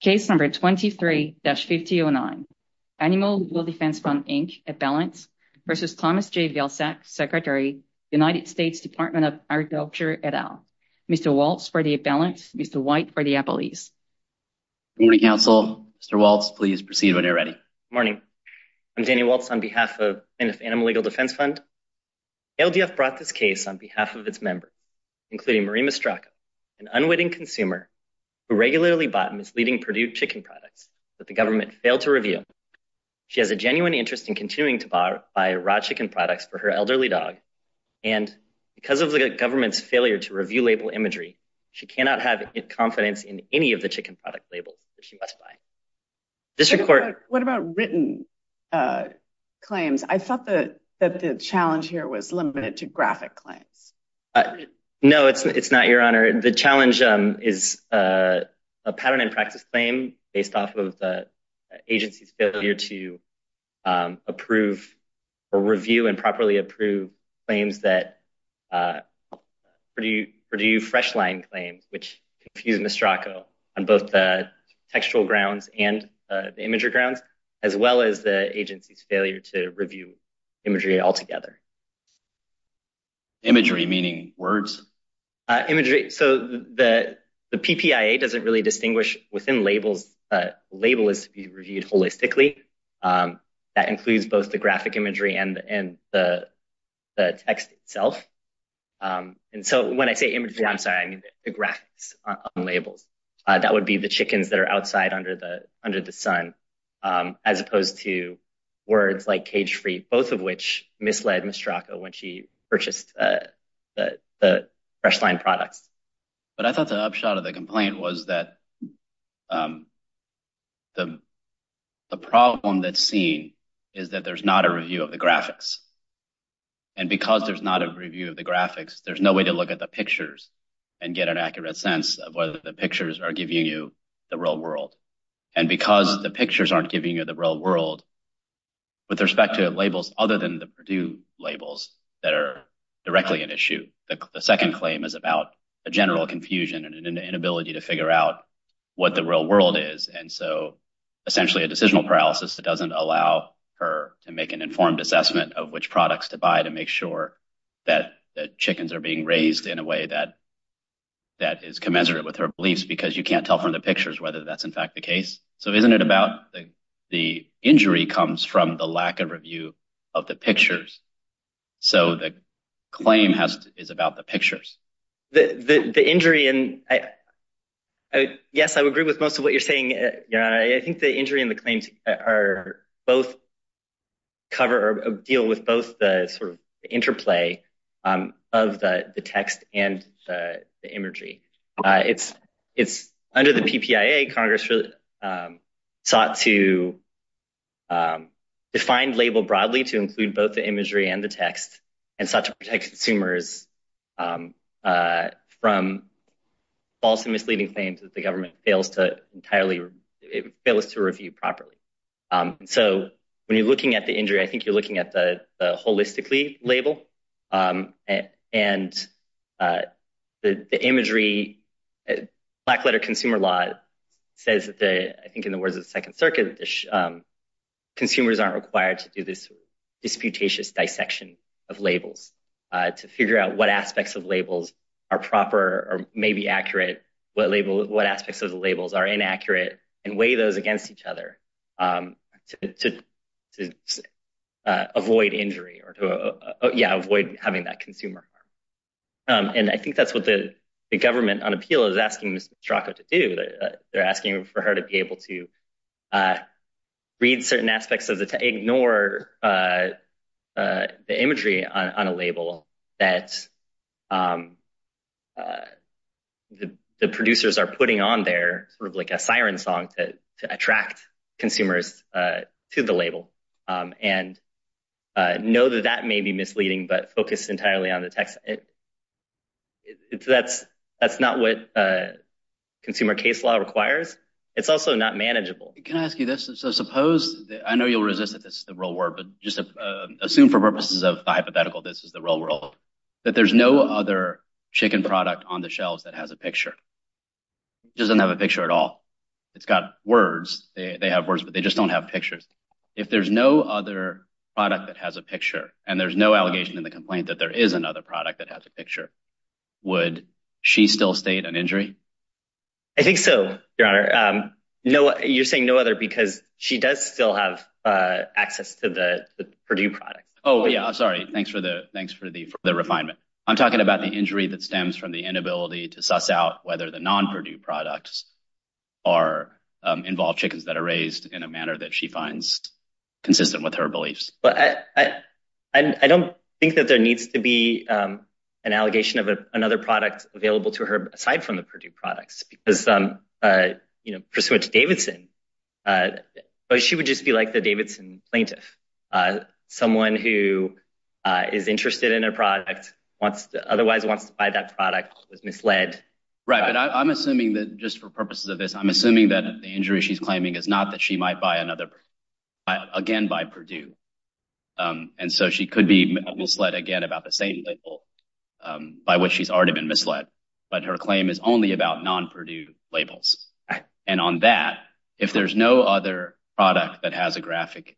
Case No. 23-5009, Animal Legal Defense Fund, Inc., Appellants v. Thomas J. Vilsack, Secretary, United States Department of Agriculture, et al. Mr. Walts for the Appellants, Mr. White for the Appellees. Good morning, Council. Mr. Walts, please proceed when you're ready. Good morning. I'm Danny Walts on behalf of Animal Legal Defense Fund. ALDF brought this case on behalf of its members, including Marie Mastracca, an unwitting consumer who regularly bought Ms. Leading Perdue chicken products that the government failed to review. She has a genuine interest in continuing to buy raw chicken products for her elderly dog, and because of the government's failure to review label imagery, she cannot have confidence in any of the chicken product labels that she must buy. What about written claims? I thought that the challenge here was limited to graphic claims. No, it's not, Your Honor. The challenge is a pattern and practice claim based off of the agency's failure to approve or review and properly approve claims that Perdue Freshline claims, which confused Mastracco on both the textual grounds and the imagery grounds, as well as the agency's failure to review imagery altogether. Imagery, meaning words? Imagery. So, the PPIA doesn't really distinguish within labels that a label is to be reviewed holistically. That includes both the graphic imagery and the text itself. And so, when I say imagery, I'm sorry, I mean the graphics on labels. That would be the chickens that are outside under the sun, as opposed to words like cage-free, both of which misled Mastracco when she purchased the Freshline products. But I thought the upshot of the complaint was that the problem that's seen is that there's not a review of the graphics. And because there's not a review of the graphics, there's no way to look at the pictures and get an accurate sense of whether the pictures are giving you the real world. And because the pictures aren't giving you the real world, with respect to labels other than the Purdue labels that are directly an issue, the second claim is about a general confusion and an inability to figure out what the real world is. And so, essentially a decisional paralysis that doesn't allow her to make an informed assessment of which products to buy to make sure that the chickens are being raised in a way that is commensurate with her beliefs, because you can't tell from the pictures whether that's in fact the case. So isn't it about the injury comes from the lack of review of the pictures. So the claim is about the pictures. The injury, and yes, I would agree with most of what you're saying, Your Honor, I think the injury and the claims are both cover, deal with both the sort of interplay of the text and the imagery. It's under the PPIA, Congress sought to define label broadly to include both the imagery and the text, and sought to protect consumers from false and misleading claims that the government fails to review properly. So when you're looking at the injury, I think you're looking at the holistically label, and the imagery, black letter consumer law says that, I think in the words of the Second Circuit, consumers aren't required to do this disputatious dissection of labels to figure out what aspects of labels are proper or maybe accurate, what aspects of the labels are inaccurate and weigh those against each other to avoid injury or to avoid having that consumer harm. And I think that's what the government on appeal is asking Ms. Strzokow to do, they're asking for her to be able to read certain aspects of the, to ignore the imagery on a song to attract consumers to the label, and know that that may be misleading, but focus entirely on the text, that's not what consumer case law requires, it's also not manageable. Can I ask you this? So suppose, I know you'll resist it, this is the real world, but just assume for purposes of hypothetical, this is the real world, that there's no other chicken product on the shelves that has a picture, doesn't have a picture at all. It's got words, they have words, but they just don't have pictures. If there's no other product that has a picture and there's no allegation in the complaint that there is another product that has a picture, would she still state an injury? I think so, Your Honor, no, you're saying no other because she does still have access to the Purdue products. Oh, yeah, sorry. Thanks for the, thanks for the refinement. I'm talking about the injury that stems from the inability to suss out whether the non-Purdue products involve chickens that are raised in a manner that she finds consistent with her beliefs. But I don't think that there needs to be an allegation of another product available to her aside from the Purdue products because, you know, pursuant to Davidson, she would just be like the Davidson plaintiff, someone who is interested in a product, otherwise wants to buy that product, was misled. Right, but I'm assuming that just for purposes of this, I'm assuming that the injury she's claiming is not that she might buy another again by Purdue. And so she could be misled again about the same label by which she's already been misled. But her claim is only about non-Purdue labels. And on that, if there's no other product that has a graphic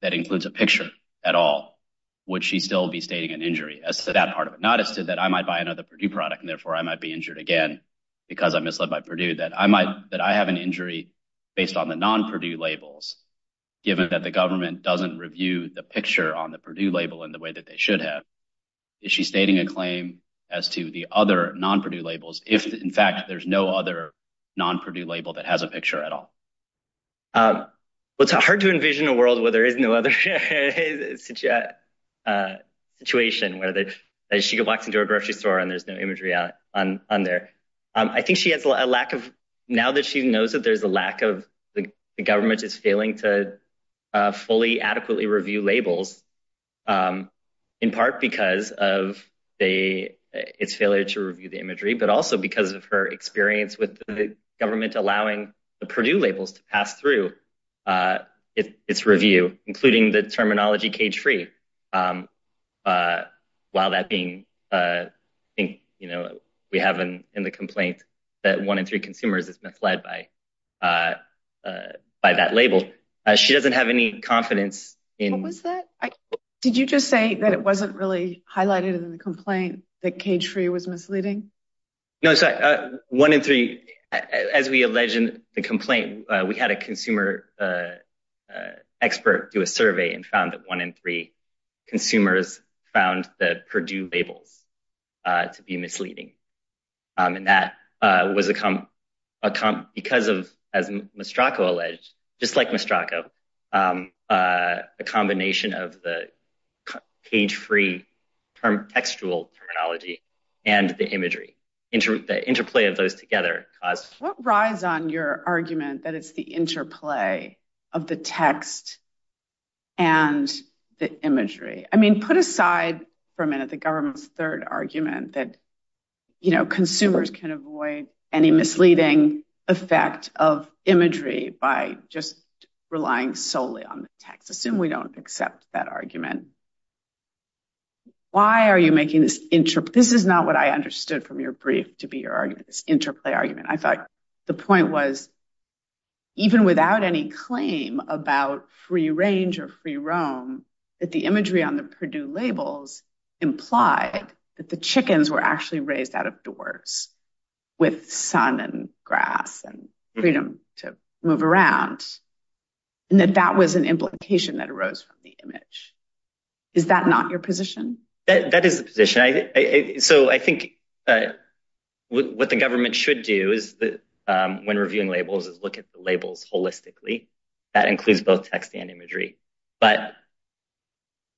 that includes a picture at all, would she still be stating an injury as to that part of it, not as to that I might buy another Purdue product and therefore I might be injured again because I'm misled by Purdue, that I might that I have an injury based on the non-Purdue labels, given that the government doesn't review the picture on the Purdue label in the way that they should have? Is she stating a claim as to the other non-Purdue labels if, in fact, there's no other non-Purdue label that has a picture at all? Well, it's hard to envision a world where there is no other situation where she goes walks into a grocery store and there's no imagery on there. I think she has a lack of now that she knows that there's a lack of the government is failing to fully adequately review labels, in part because of the its failure to review the imagery, but also because of her experience with the government allowing the Purdue labels to pass through its review, including the terminology cage-free. While that being, I think, you know, we have in the complaint that one in three consumers is misled by that label. She doesn't have any confidence in. What was that? Did you just say that it wasn't really highlighted in the complaint that cage-free was misleading? No, sorry. One in three, as we allege in the complaint, we had a consumer expert do a survey and found that one in three consumers found the Purdue labels to be misleading. And that was because of, as Mistraco alleged, just like Mistraco, a combination of the cage-free textual terminology and the imagery, the interplay of those together. What rides on your argument that it's the interplay of the text and the imagery? I mean, put aside for a minute the government's third argument that, you know, consumers can avoid any misleading effect of imagery by just relying solely on the text. Assume we don't accept that argument. Why are you making this interplay? This is not what I understood from your brief to be your argument, this interplay argument. I thought the point was. Even without any claim about free range or free roam, that the imagery on the Purdue labels implied that the chickens were actually raised out of doors with sun and grass and freedom to move around and that that was an implication that arose from the image. Is that not your position? That is the position. So I think what the government should do is that when reviewing labels is look at the labels holistically. That includes both text and imagery. But.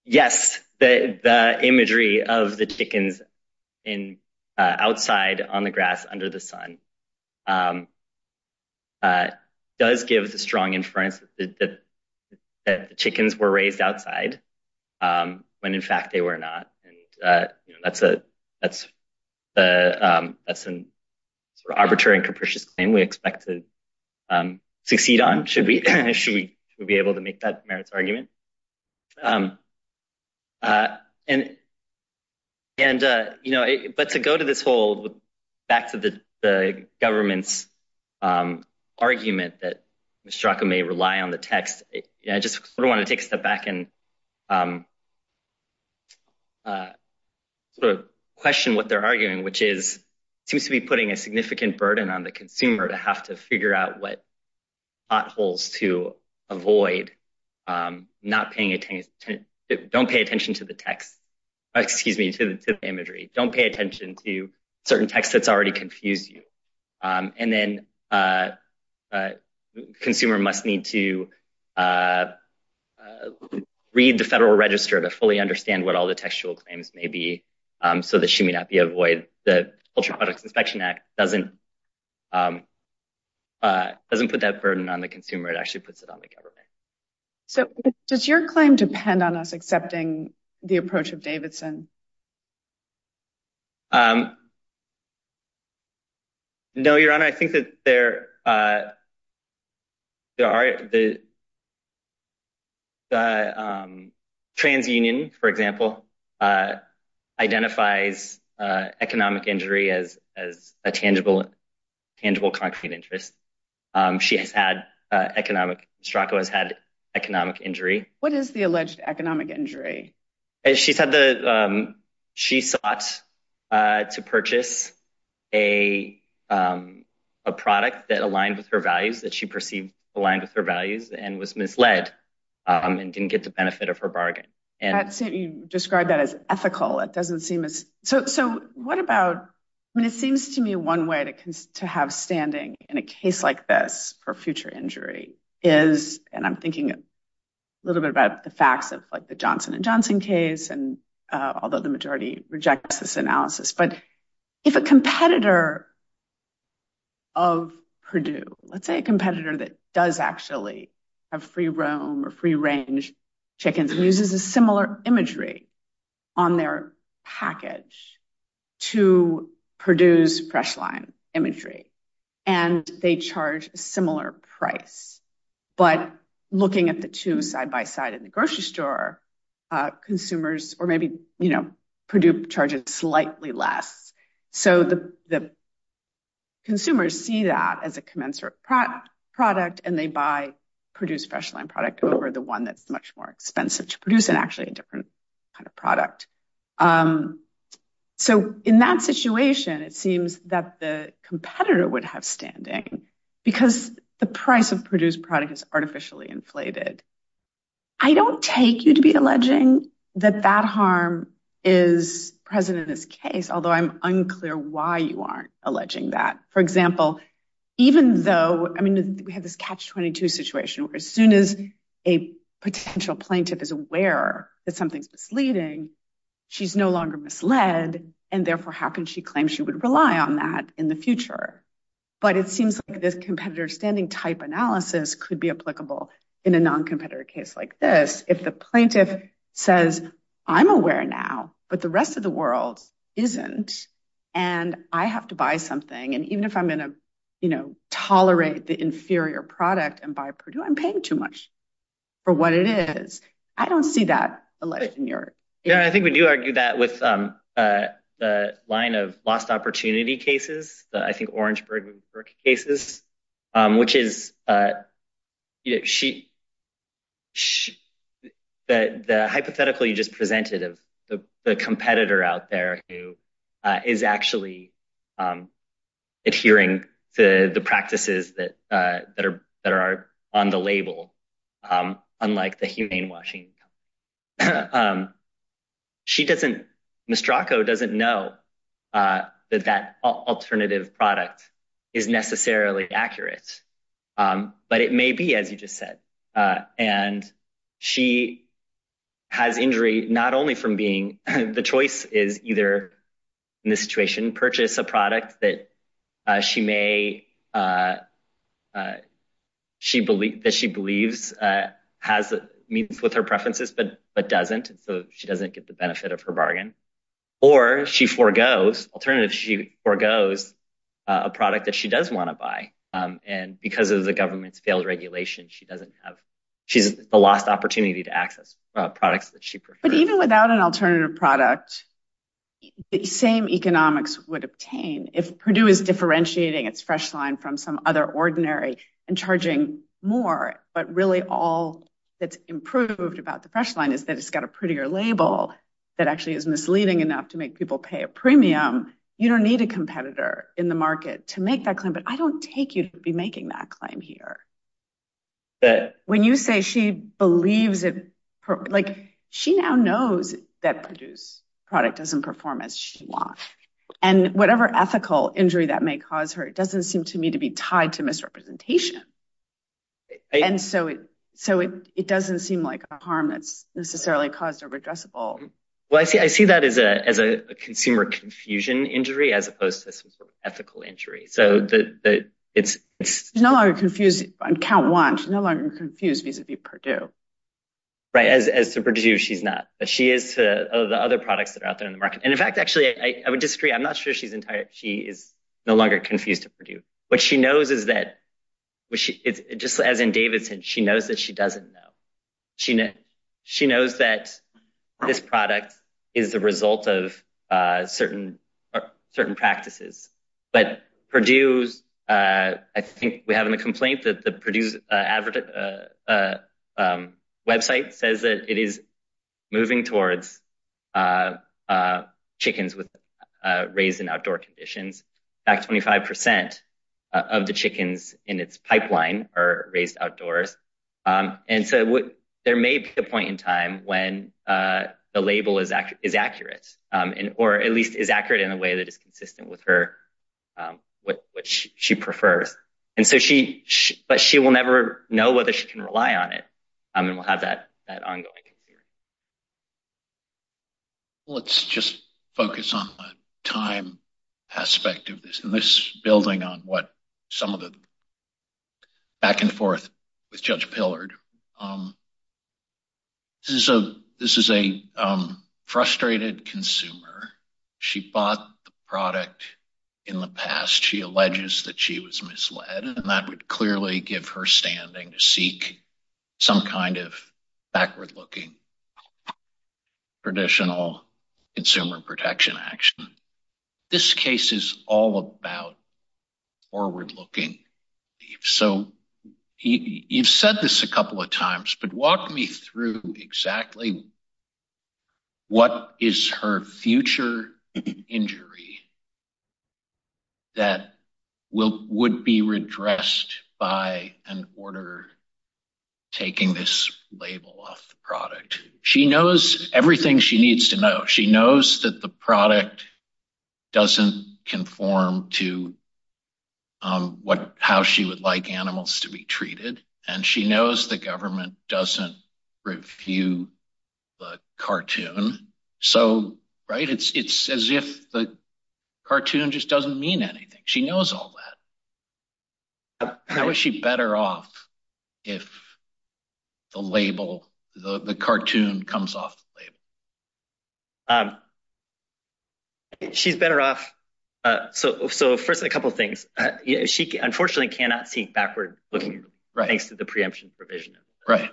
Yes, the imagery of the chickens in outside on the grass under the sun. Does give the strong inference that the chickens were raised outside when, in fact, they were not. And that's a that's a that's an arbitrary and capricious claim we expect to succeed on. Should we should we be able to make that merits argument? And. And, you know, but to go to this whole back to the government's argument that Mistraco may rely on the text, I just want to take a step back and. I sort of question what they're arguing, which is seems to be putting a significant burden on the consumer to have to figure out what potholes to avoid not paying attention. Don't pay attention to the text. Excuse me to the imagery. Don't pay attention to certain texts that's already confused you. And then a consumer must need to read the federal register to fully understand what all the textual claims may be so that she may not be avoid the Ultra Products Inspection Act doesn't doesn't put that burden on the consumer. It actually puts it on the government. So does your claim depend on us accepting the approach of Davidson? No, your honor, I think that there. There are the. The TransUnion, for example, identifies economic injury as as a tangible, tangible concrete interest. She has had economic. Straco has had economic injury. What is the alleged economic injury? She said that she sought to purchase a a product that aligned with her values that she perceived aligned with her values and was misled and didn't get the benefit of her bargain. And you describe that as ethical. It doesn't seem as so. So what about when it seems to me one way to have standing in a case like this for future injury is and I'm thinking a little bit about the facts of the Johnson and Johnson case, and although the majority rejects this analysis, but if a competitor. Of Purdue, let's say a competitor that does actually have free roam or free range chickens and uses a similar imagery on their package to produce fresh line imagery and they charge a similar price, but looking at the two side by side in the grocery store, consumers or maybe, you know, Purdue charges slightly less. So the. Consumers see that as a commensurate product and they buy produce fresh line product over the one that's much more expensive to produce and actually a different kind of product. So in that situation, it seems that the competitor would have standing because the price of produce product is artificially inflated. I don't take you to be alleging that that harm is present in this case, although I'm unclear why you aren't alleging that, for example, even though I mean, we have this catch 22 situation where as soon as a potential plaintiff is aware that something's misleading, she's no longer misled and therefore how can she claim she would rely on that in the future? But it seems like this competitor standing type analysis could be applicable in a non-competitor case like this if the plaintiff says, I'm aware now, but the rest of the world isn't and I have to buy something. And even if I'm going to, you know, tolerate the inferior product and buy Purdue, I'm paying too much for what it is. I don't see that. Yeah, I think we do argue that with the line of lost opportunity cases that I think Orangeburg cases, which is. She. The hypothetical you just presented of the competitor out there who is actually adhering to the practices that that are that are on the label, unlike the humane machine. She doesn't Mraco doesn't know that that alternative product is necessarily accurate, but it may be, as you just said, and she has injury not only from being the choice is either in this situation, purchase a product that she may. She believe that she believes has meets with her preferences, but but doesn't, so she doesn't get the benefit of her bargain or she forgoes alternative. She forgoes a product that she does want to buy. And because of the government's failed regulation, she doesn't have she's the lost opportunity to access products that she. But even without an alternative product, the same economics would obtain if Purdue is differentiating its fresh line from some other ordinary and charging more. But really, all that's improved about the fresh line is that it's got a prettier label that actually is misleading enough to make people pay a premium. You don't need a competitor in the market to make that claim. But I don't take you to be making that claim here. When you say she believes it like she now knows that produce product doesn't perform as well and whatever ethical injury that may cause her, it doesn't seem to me to be tied to misrepresentation. And so so it doesn't seem like a harm that's necessarily caused or addressable. Well, I see I see that as a as a consumer confusion injury as opposed to some sort of ethical injury. So that it's it's no longer confusing. I can't watch no longer confused vis-a-vis Purdue. Right, as to produce, she's not she is to the other products that are out there in the market. Actually, I would disagree. I'm not sure she's entire. She is no longer confused to Purdue. What she knows is that it's just as in Davidson. She knows that she doesn't know. She knows she knows that this product is the result of certain certain practices. But Purdue's I think we have a complaint that the Purdue's website says that it is moving towards chickens with raised in outdoor conditions, back 25 percent of the chickens in its pipeline are raised outdoors. And so there may be a point in time when the label is accurate or at least is accurate in a way that is consistent with her, which she prefers. And so she but she will never know whether she can rely on it. I mean, we'll have that that ongoing. Let's just focus on the time aspect of this and this building on what some of the back and forth with Judge Pillard. This is a this is a frustrated consumer, she bought the product in the past, she alleges that she was misled and that would clearly give her standing to seek some kind of backward looking. Traditional consumer protection action, this case is all about forward looking, so you've said this a couple of times, but walk me through exactly. What is her future injury? That will would be redressed by an order taking this label off the product, she knows everything she needs to know, she knows that the product doesn't conform to what how she would like animals to be treated, and she knows the government doesn't review the cartoon. So, right, it's as if the cartoon just doesn't mean anything. She knows all that. How is she better off if the label, the cartoon comes off the label? She's better off, so so first a couple of things, she unfortunately cannot seek backward looking, right, thanks to the preemption provision. Right.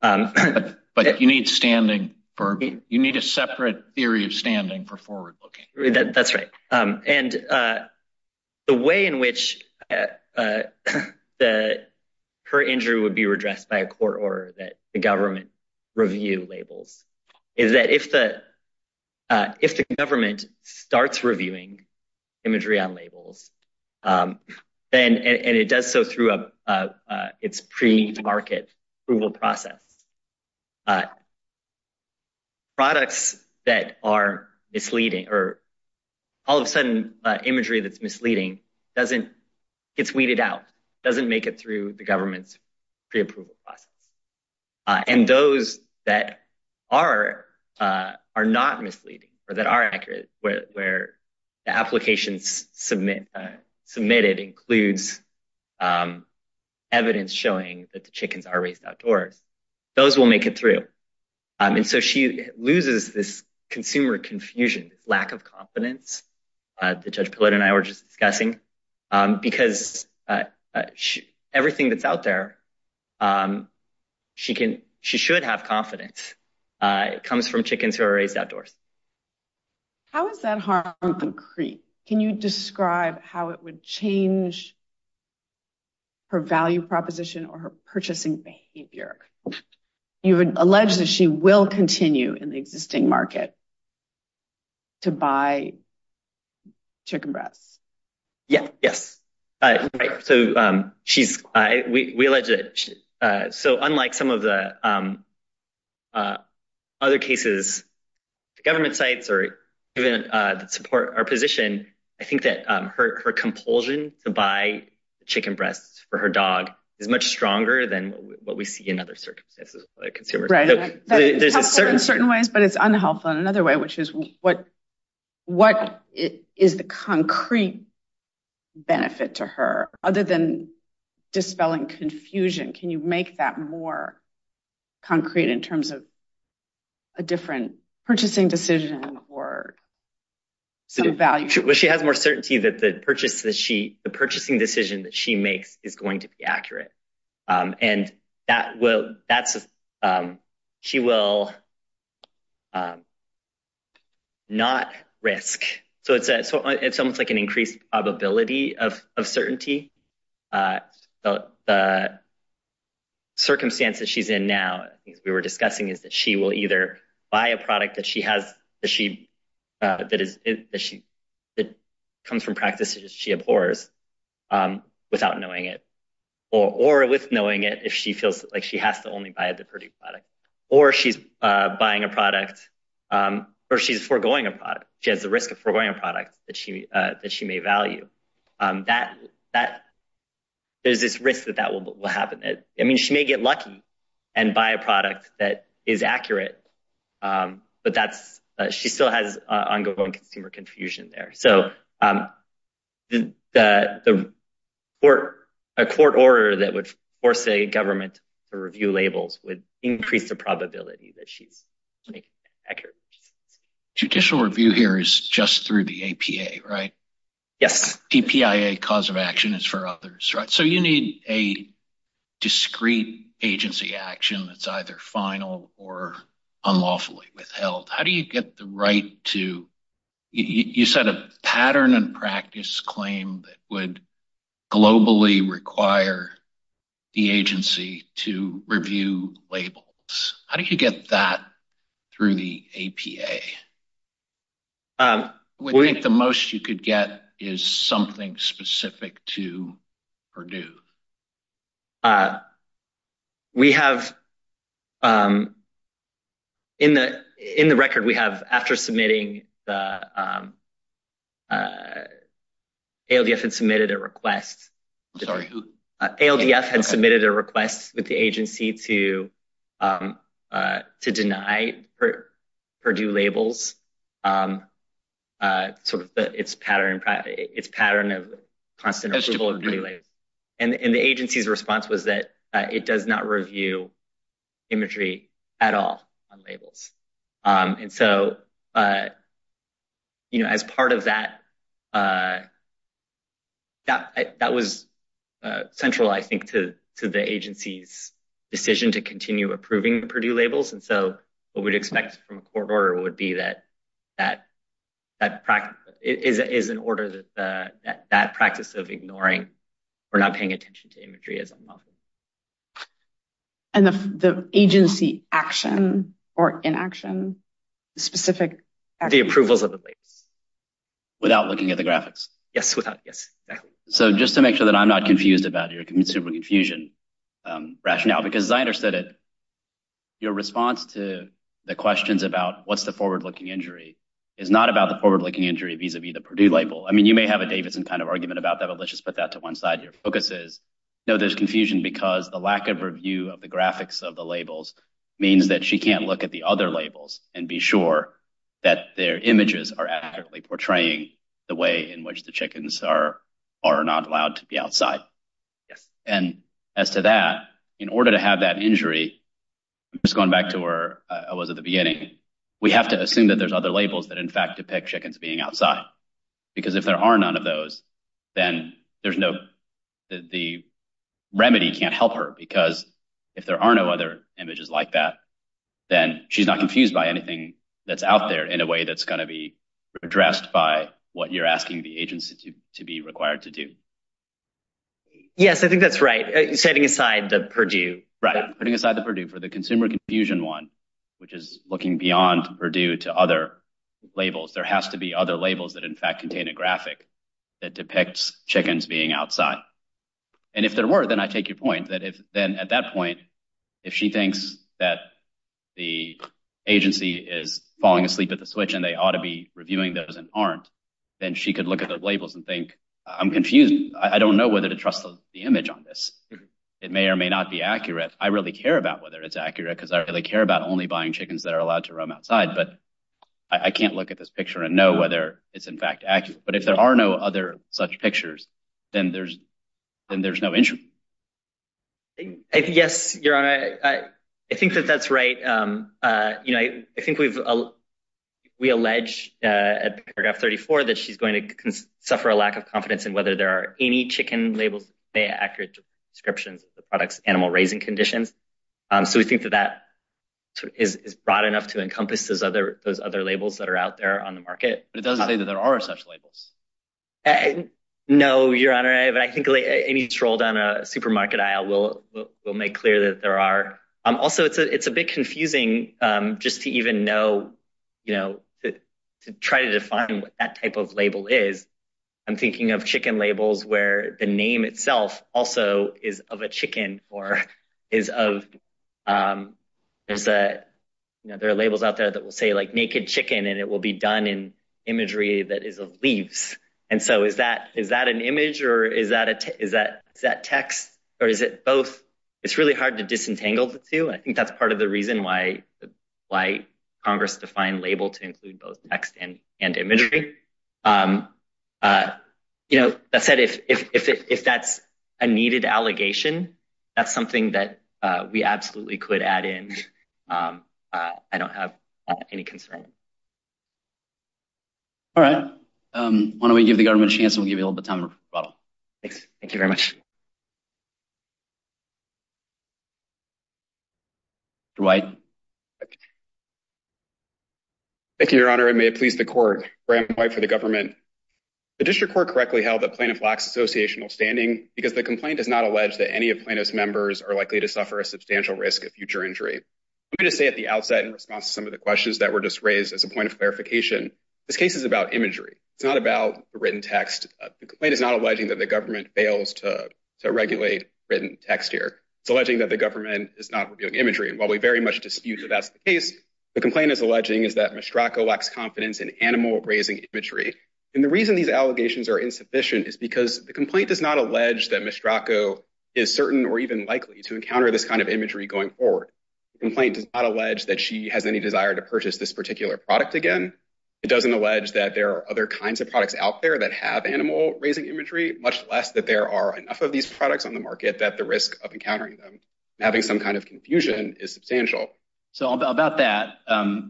But you need standing for you need a separate theory of standing for forward looking. That's right. And the way in which that her injury would be redressed by a court order that the if the if the government starts reviewing imagery on labels and it does so through its pre market approval process. Products that are misleading or all of a sudden imagery that's misleading doesn't it's weeded out, doesn't make it through the government's preapproval process. And those that are are not misleading or that are accurate where the applications submit submitted includes evidence showing that the chickens are raised outdoors, those will make it through. And so she loses this consumer confusion, lack of confidence. The judge and I were just discussing because everything that's out there, she can she should have confidence. It comes from chickens who are raised outdoors. How is that concrete? Can you describe how it would change? Her value proposition or her purchasing behavior, you would allege that she will continue in the existing market. To buy chicken breasts, yes, yes, right, so she's we allege that so unlike some of the other cases, government sites or even support our position, I think that her compulsion to buy chicken breasts for her dog is much stronger than what we see in other circumstances. Right. There's a certain certain ways, but it's unhelpful in another way, which is what what is the concrete benefit to her other than dispelling confusion? Can you make that more concrete in terms of a different purchasing decision or some value? Well, she has more certainty that the purchase that she the purchasing decision that she will that's she will. Not risk, so it's it's almost like an increased probability of certainty. The. Circumstances she's in now, we were discussing is that she will either buy a product that she has that she that is that she that comes from practices she abhors without knowing it or or with knowing it. If she feels like she has to only buy the product or she's buying a product or she's foregoing a product, she has the risk of foregoing a product that she that she may value that that. There's this risk that that will happen that I mean, she may get lucky and buy a product that is accurate, but that's she still has ongoing consumer confusion there. So the court, a court order that would force a government to review labels would increase the probability that she's accurate. Judicial review here is just through the APA, right? Yes. DPIA cause of action is for others. So you need a discrete agency action that's either final or unlawfully withheld. How do you get the right to you set a pattern and practice claim that would globally require the agency to review labels? How do you get that through the APA? We think the most you could get is something specific to Purdue. We have in the in the record we have after submitting the ALDF had submitted a request. I'm sorry. ALDF had submitted a request with the agency to to deny her Purdue labels sort of its pattern. It's pattern of constant approval of Purdue labels. And the agency's response was that it does not review imagery at all on labels. And so. You know, as part of that. That was central, I think, to the agency's decision to continue approving Purdue labels. And so what we'd expect from a court order would be that that that is an order that that we're not paying attention to imagery is unlawful. And the agency action or inaction, the specific the approvals of the labels without looking at the graphics. Yes, without. Yes. So just to make sure that I'm not confused about your confusion rationale, because I understood it. Your response to the questions about what's the forward looking injury is not about the forward looking injury vis-a-vis the Purdue label. I mean, you may have a Davidson kind of argument about that, but let's just put that to one side. Your focus is no, there's confusion because the lack of review of the graphics of the labels means that she can't look at the other labels and be sure that their images are accurately portraying the way in which the chickens are are not allowed to be outside. And as to that, in order to have that injury, it's going back to where I was at the beginning. We have to assume that there's other labels that, in fact, depict chickens being outside, because if there are none of those, then there's no the remedy can't help her because if there are no other images like that, then she's not confused by anything that's out there in a way that's going to be addressed by what you're asking the agency to be required to do. Yes, I think that's right. Setting aside the Purdue, right, putting aside the Purdue for the consumer confusion one, which is looking beyond Purdue to other labels. There has to be other labels that, in fact, contain a graphic that depicts chickens being outside. And if there were, then I take your point that if then at that point, if she thinks that the agency is falling asleep at the switch and they ought to be reviewing those and aren't, then she could look at the labels and think, I'm confused. I don't know whether to trust the image on this. It may or may not be accurate. I really care about whether it's accurate because I really care about only buying chickens that are allowed to roam outside. But I can't look at this picture and know whether it's, in fact, accurate. But if there are no other such pictures, then there's then there's no issue. Yes, your honor, I think that that's right. You know, I think we've we allege at paragraph 34 that she's going to suffer a lack of confidence in whether there are any chicken labels, the accurate descriptions of the is brought enough to encompass those other those other labels that are out there on the market. But it doesn't say that there are such labels. And no, your honor, I think any troll down a supermarket aisle will will make clear that there are. Also, it's a bit confusing just to even know, you know, to try to define what that type of label is. I'm thinking of chicken labels where the name itself also is of a chicken or is of is that there are labels out there that will say like naked chicken and it will be done in imagery that is of leaves. And so is that is that an image or is that is that is that text or is it both? It's really hard to disentangle the two. I think that's part of the reason why why Congress defined label to include both text and imagery. You know, that said, if if that's a needed allegation, that's something that we absolutely could add in. I don't have any concern. All right, why don't we give the government a chance, we'll give you all the time. Thanks. Thank you very much. Dwight. Thank you, your honor, and may it please the court for the government, the district court correctly held that plaintiff lacks associational standing because the allegation is of animal risk of future injury to say at the outset in response to some of the questions that were just raised as a point of clarification. This case is about imagery. It's not about the written text. The complaint is not alleging that the government fails to regulate written text here. It's alleging that the government is not doing imagery. And while we very much dispute that that's the case, the complaint is alleging is that Mistraco lacks confidence in animal raising imagery. And the reason these allegations are insufficient is because the complaint does not allege that Mistraco is certain or even likely to encounter this kind of imagery going forward. The complaint does not allege that she has any desire to purchase this particular product again. It doesn't allege that there are other kinds of products out there that have animal raising imagery, much less that there are enough of these products on the market that the risk of encountering them and having some kind of confusion is substantial. So about that,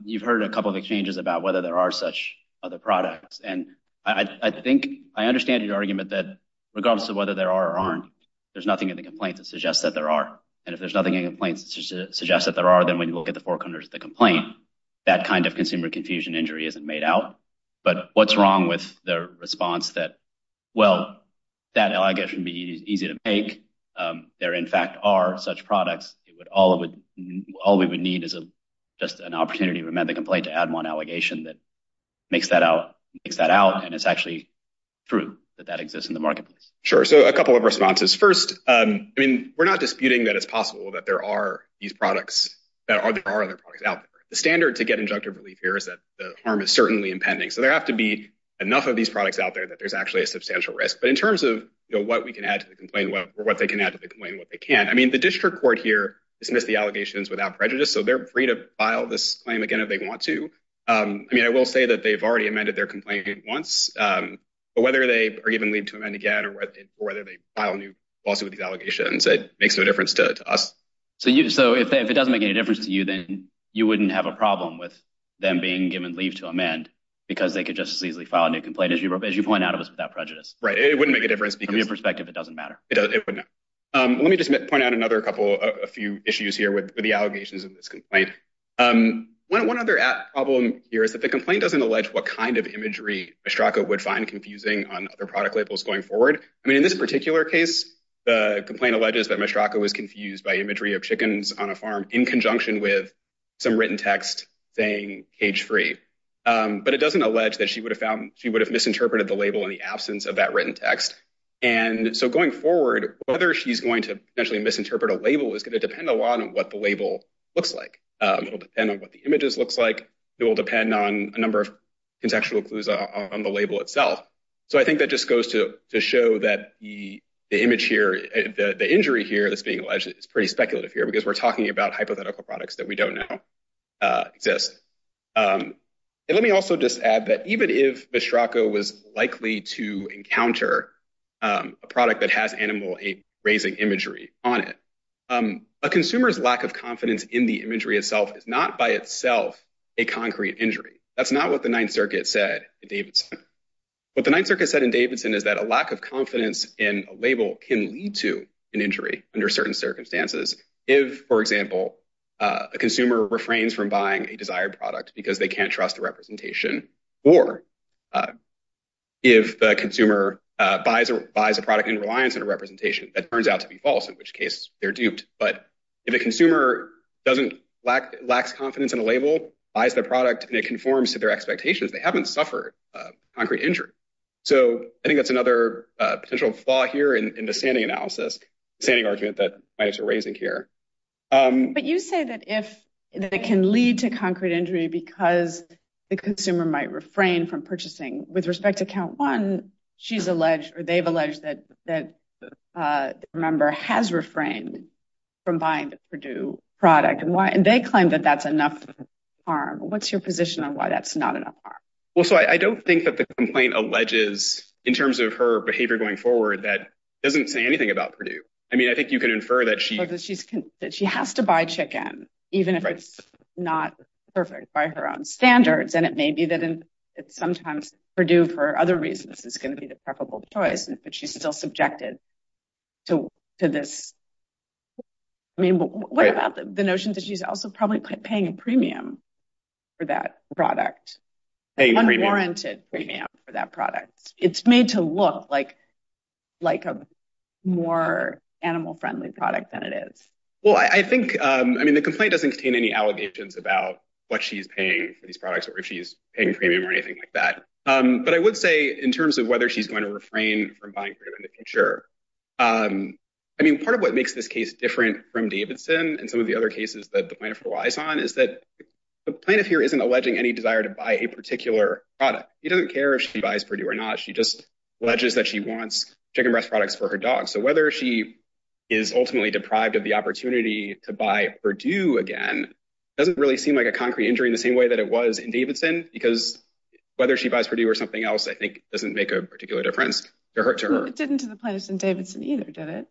you've heard a couple of exchanges about whether there are such other products. And I think I understand your argument that regardless of whether there are or there's nothing in the complaint that suggests that there are. And if there's nothing in the complaints that suggests that there are, then when you look at the four corners of the complaint, that kind of consumer confusion injury isn't made out. But what's wrong with the response that, well, that allegation would be easy to make? There, in fact, are such products. It would all of it. All we would need is just an opportunity to amend the complaint to add one allegation that makes that out, makes that out. And it's actually true that that exists in the marketplace. Sure. So a couple of responses. First, I mean, we're not disputing that it's possible that there are these products that are there are other products out there. The standard to get injunctive relief here is that the harm is certainly impending. So there have to be enough of these products out there that there's actually a substantial risk. But in terms of what we can add to the complaint, what they can add to the complaint, what they can't. I mean, the district court here dismissed the allegations without prejudice. So they're free to file this claim again if they want to. I mean, I will say that they've already amended their complaint once. But whether they are given leave to amend again or whether they file a new lawsuit with these allegations, it makes no difference to us. So you so if it doesn't make any difference to you, then you wouldn't have a problem with them being given leave to amend because they could just as easily file a new complaint, as you as you point out, it was without prejudice. Right. It wouldn't make a difference. From your perspective, it doesn't matter. Let me just point out another couple of a few issues here with the allegations of this complaint. One other problem here is that the complaint doesn't allege what kind of confusing on other product labels going forward. I mean, in this particular case, the complaint alleges that Mistraco was confused by imagery of chickens on a farm in conjunction with some written text saying cage free. But it doesn't allege that she would have found she would have misinterpreted the label in the absence of that written text. And so going forward, whether she's going to actually misinterpret a label is going to depend a lot on what the label looks like and on what the images looks like. It will depend on a number of contextual clues on the label itself. So I think that just goes to show that the image here, the injury here that's being alleged is pretty speculative here because we're talking about hypothetical products that we don't know exist. And let me also just add that even if Mistraco was likely to encounter a product that has animal raising imagery on it, a consumer's lack of confidence in the imagery itself is not by itself a concrete injury. That's not what the Ninth Circuit said in Davidson. What the Ninth Circuit said in Davidson is that a lack of confidence in a label can lead to an injury under certain circumstances. If, for example, a consumer refrains from buying a desired product because they can't trust the representation or if the consumer buys a buys a product in reliance on a representation that turns out to be false, in which case they're duped. But if a consumer doesn't lack confidence in a label, buys the product and it conforms to their expectations, they haven't suffered a concrete injury. So I think that's another potential flaw here in the standing analysis, standing argument that might have to raise in here. But you say that if that can lead to concrete injury because the consumer might refrain from purchasing with respect to count one, she's alleged or they've alleged that that member has refrained from buying the Purdue product and they claim that that's enough harm. What's your position on why that's not enough harm? Well, so I don't think that the complaint alleges in terms of her behavior going forward that doesn't say anything about Purdue. I mean, I think you can infer that she has to buy chicken even if it's not perfect by her own standards. And it may be that sometimes Purdue, for other reasons, is going to be the preferable choice, but she's still subjected to this. I mean, what about the notion that she's also probably paying a premium for that product, a warranted premium for that product? It's made to look like like a more animal friendly product than it is. Well, I think I mean, the complaint doesn't contain any allegations about what she's paying for these products or if she's paying premium or anything like that. But I would say in terms of whether she's going to refrain from buying it in the future, I mean, part of what makes this case different from Davidson and some of the other cases that the plaintiff relies on is that the plaintiff here isn't alleging any desire to buy a particular product. He doesn't care if she buys Purdue or not. She just alleges that she wants chicken breast products for her dog. So whether she is ultimately deprived of the opportunity to buy Purdue again doesn't really seem like a concrete injury in the same way that it was in Davidson, because whether she buys Purdue or something else, I think doesn't make a particular difference to her. It didn't to the plaintiffs in Davidson either, did it?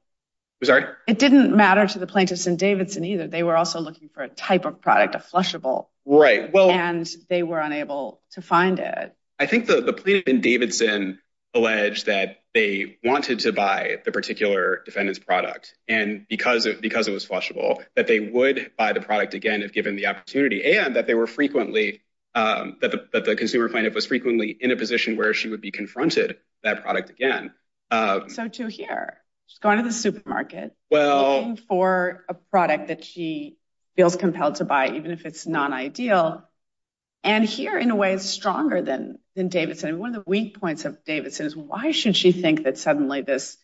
I'm sorry. It didn't matter to the plaintiffs in Davidson either. They were also looking for a type of product, a flushable. Right. Well, and they were unable to find it. I think the plaintiff in Davidson alleged that they wanted to buy the particular defendant's product and because it because it was flushable that they would buy the product again if given the opportunity and that they were frequently that the consumer plaintiff was frequently in a position where she would be confronted that product again. So to hear she's going to the supermarket, well, for a product that she feels compelled to buy, even if it's not ideal. And here, in a way, is stronger than than Davidson. One of the weak points of Davidson is why should she think that suddenly this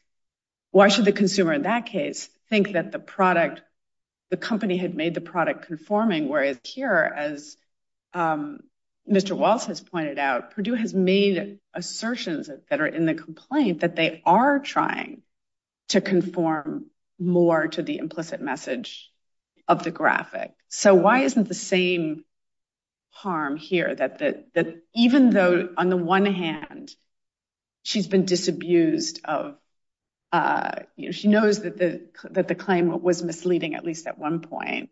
why should the consumer in that case think that the product the company had made the point. As pointed out, Purdue has made assertions that are in the complaint that they are trying to conform more to the implicit message of the graphic. So why isn't the same harm here that that even though on the one hand she's been disabused of, you know, she knows that the that the claim was misleading, at least at some point.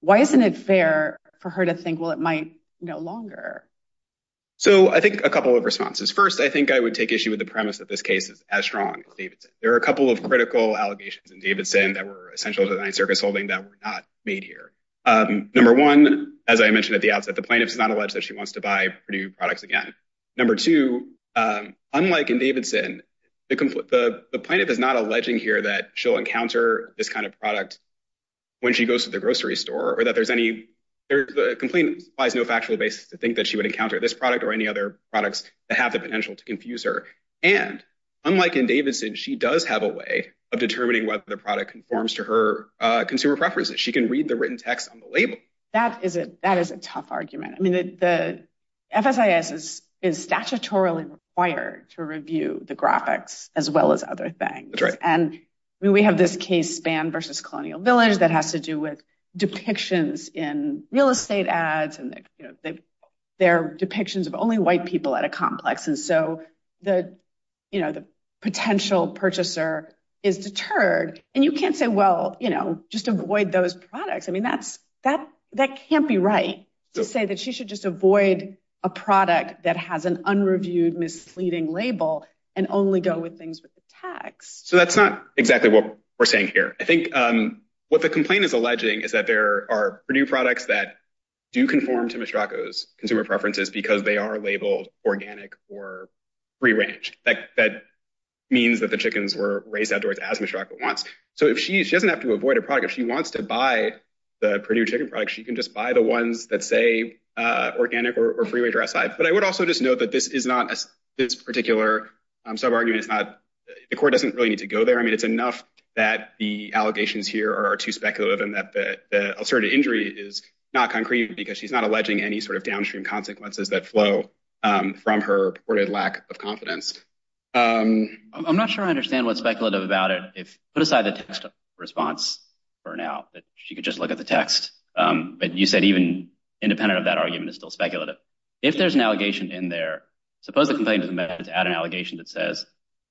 Why isn't it fair for her to think, well, it might no longer? So I think a couple of responses. First, I think I would take issue with the premise that this case is as strong as Davidson. There are a couple of critical allegations in Davidson that were essential to the Ninth Circuit's holding that were not made here. Number one, as I mentioned at the outset, the plaintiff is not alleged that she wants to buy Purdue products again. Number two, unlike in Davidson, the plaintiff is not alleging here that she'll go to the grocery store or that there's any there's no factual basis to think that she would encounter this product or any other products that have the potential to confuse her. And unlike in Davidson, she does have a way of determining whether the product conforms to her consumer preferences. She can read the written text on the label. That is a that is a tough argument. I mean, the FSIS is is statutorily required to review the graphics as well as other things. And we have this case span versus Colonial Village that has to do with depictions in real estate ads and their depictions of only white people at a complex. And so the you know, the potential purchaser is deterred and you can't say, well, you know, just avoid those products. I mean, that's that that can't be right to say that she should just avoid a product that has an unreviewed, misleading label and only go with things with the text. So that's not exactly what we're saying here. I think what the complaint is alleging is that there are new products that do conform to Mistraco's consumer preferences because they are labeled organic or free range. That means that the chickens were raised outdoors as Mistraco wants. So if she doesn't have to avoid a product, if she wants to buy the Purdue chicken product, she can just buy the ones that say organic or free range are outside. But I would also just note that this is not this particular sub argument. It's not the court doesn't really need to go there. I mean, it's enough that the allegations here are too speculative and that the ulcerative injury is not concrete because she's not alleging any sort of downstream consequences that flow from her reported lack of confidence. I'm not sure I understand what's speculative about it. If put aside the text response for now that she could just look at the text. But you said even independent of that argument is still speculative. If there's an allegation in there, suppose the complaint is about an allegation that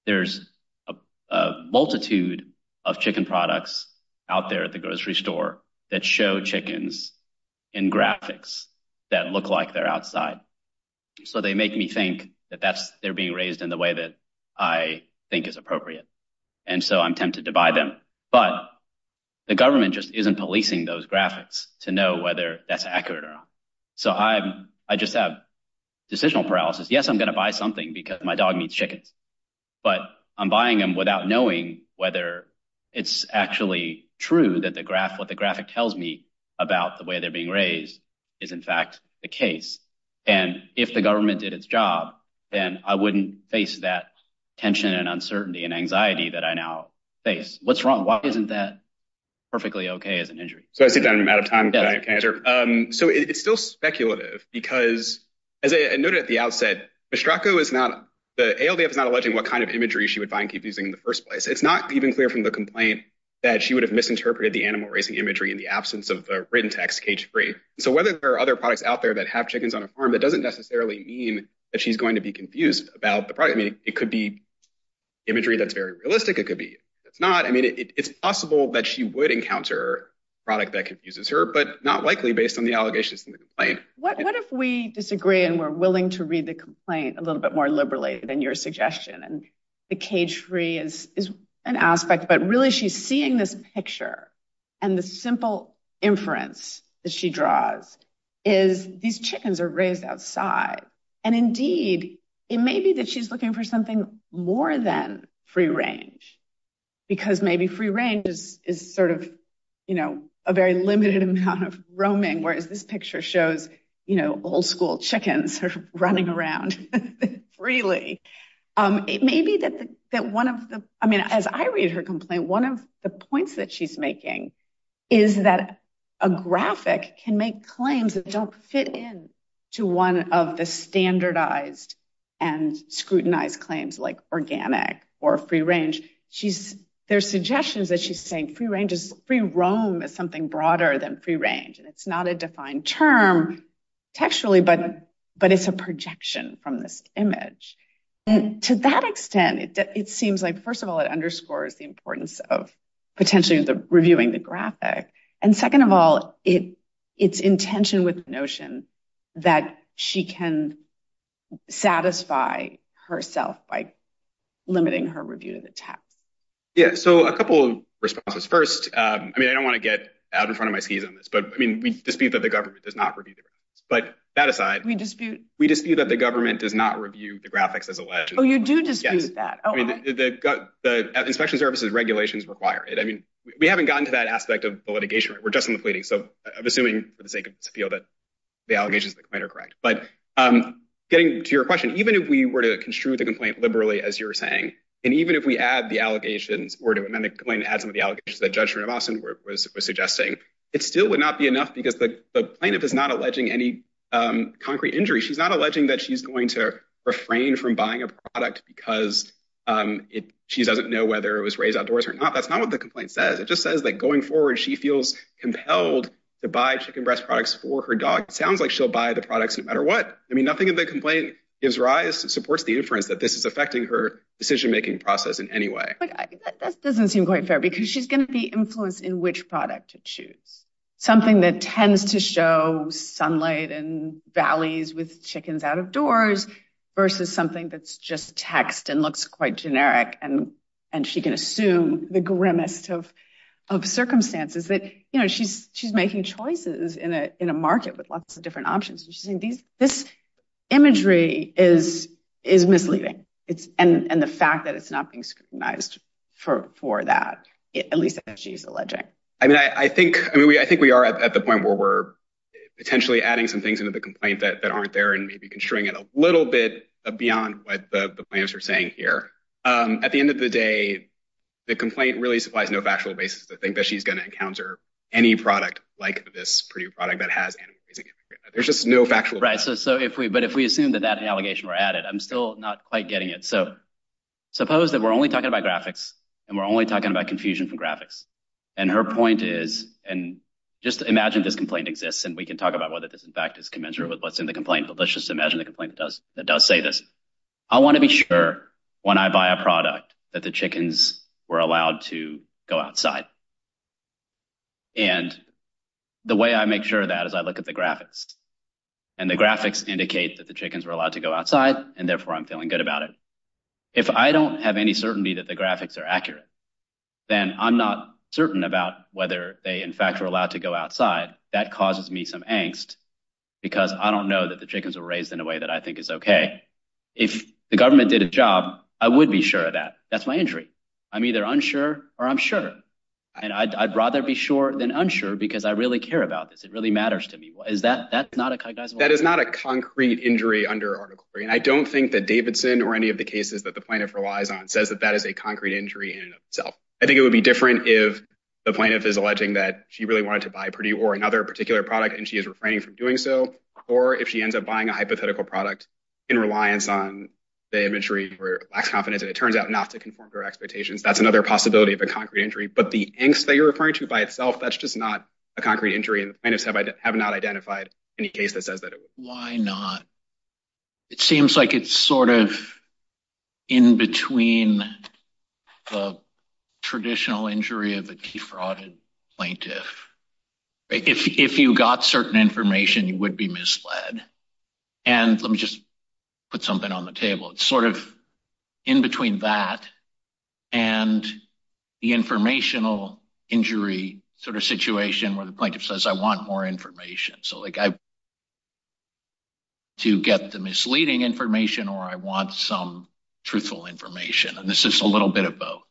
there's a multitude of chicken products out there at the grocery store that show chickens in graphics that look like they're outside. So they make me think that they're being raised in the way that I think is appropriate. And so I'm tempted to buy them. But the government just isn't policing those graphics to know whether that's accurate or not. So I just have decisional paralysis. Yes, I'm going to buy something because my dog needs chickens. But I'm buying them without knowing whether it's actually true that the graph what the graphic tells me about the way they're being raised is, in fact, the case. And if the government did its job, then I wouldn't face that tension and uncertainty and anxiety that I now face. What's wrong? Why isn't that perfectly OK as an injury? So I sit down out of time. So it's still speculative because, as I noted at the outset, Mistraco is not the ALDF is not alleging what kind of imagery she would find confusing in the first place. It's not even clear from the complaint that she would have misinterpreted the animal raising imagery in the absence of the written text cage free. So whether there are other products out there that have chickens on a farm, that doesn't necessarily mean that she's going to be confused about the product. I mean, it could be imagery that's very realistic. It could be it's not. I mean, it's possible that she would encounter product that confuses her, but not likely based on the allegations in the complaint. What if we disagree and we're willing to read the complaint a little bit more liberally than your suggestion? And the cage free is an aspect. But really, she's seeing this picture and the simple inference that she draws is these chickens are raised outside. And indeed, it may be that she's looking for something more than free range because maybe free range is sort of, you know, a very limited amount of roaming, whereas this is free range, really. It may be that one of the I mean, as I read her complaint, one of the points that she's making is that a graphic can make claims that don't fit in to one of the standardized and scrutinized claims like organic or free range. She's there's suggestions that she's saying free range is free. Roam is something broader than free range. And it's not a defined term textually, but but it's a projection from this image. To that extent, it seems like, first of all, it underscores the importance of potentially reviewing the graphic. And second of all, it it's intention with the notion that she can satisfy herself by limiting her review of the text. Yeah. So a couple of responses. First, I mean, I don't want to get out in front of my skis on this, but I mean, we dispute that the government does not review. But that aside, we dispute we dispute that the government does not review the graphics as alleged. Oh, you do dispute that. I mean, the inspection services regulations require it. I mean, we haven't gotten to that aspect of the litigation. We're just in the pleading. So I'm assuming for the sake of appeal that the allegations that are correct. But I'm getting to your question. Even if we were to construe the complaint liberally, as you're saying, and even if we add the allegations or do a medical and add some of the allegations that judgment of Austin was suggesting, it still would not be enough because the plaintiff is not alleging any concrete injury. She's not alleging that she's going to refrain from buying a product because she doesn't know whether it was raised outdoors or not. That's not what the complaint says. It just says that going forward, she feels compelled to buy chicken breast products for her dog. It sounds like she'll buy the products no matter what. I mean, nothing in the complaint is rise supports the inference that this is affecting her decision making process in any way. That doesn't seem quite fair because she's going to be influenced in which product to choose, something that tends to show sunlight and valleys with chickens out of doors versus something that's just text and looks quite generic. And and she can assume the grimest of of circumstances that, you know, she's she's making choices in a in a market with lots of different options. This imagery is is misleading. It's and the fact that it's not being scrutinized for that, at least she's alleging. I mean, I think I mean, I think we are at the point where we're potentially adding some things into the complaint that aren't there and maybe construing it a little bit beyond what the plans are saying here. At the end of the day, the complaint really supplies no factual basis to think that she's going to encounter any product like this product that has. There's just no factual right. So so if we but if we assume that that allegation were added, I'm still not quite getting it. So suppose that we're only talking about graphics and we're only talking about confusion from graphics. And her point is and just imagine this complaint exists and we can talk about whether this, in fact, is commensurate with what's in the complaint. But let's just imagine the complaint does that does say this. I want to be sure when I buy a product that the chickens were allowed to go outside. And the way I make sure that as I look at the graphics and the graphics indicate that the chickens were allowed to go outside and therefore I'm feeling good about it. If I don't have any certainty that the graphics are accurate, then I'm not certain about whether they, in fact, are allowed to go outside. That causes me some angst because I don't know that the chickens were raised in a way that I think is OK. If the government did a job, I would be sure that that's my injury. I'm either unsure or I'm sure. And I'd rather be sure than unsure because I really care about this. It really matters to me. Is that that's not a kind of that is not a concrete injury under article three. And I don't think that Davidson or any of the cases that the plaintiff relies on says that that is a concrete injury in itself. I think it would be different if the plaintiff is alleging that she really wanted to buy Purdue or another particular product and she is refraining from doing so, or if she ends up buying a hypothetical product in reliance on the imagery or lacks confidence. And it turns out not to conform to her expectations. That's another possibility of a concrete injury. But the angst that you're referring to by itself, that's just not a concrete injury. And I just have I have not identified any case that says that. Why not? It seems like it's sort of in between the traditional injury of the defrauded plaintiff. If you got certain information, you would be misled. And let me just put something on the table. It's sort of in between that and the informational injury sort of situation where the plaintiff says, I want more information. So like I. To get the misleading information or I want some truthful information, and this is a little bit of both.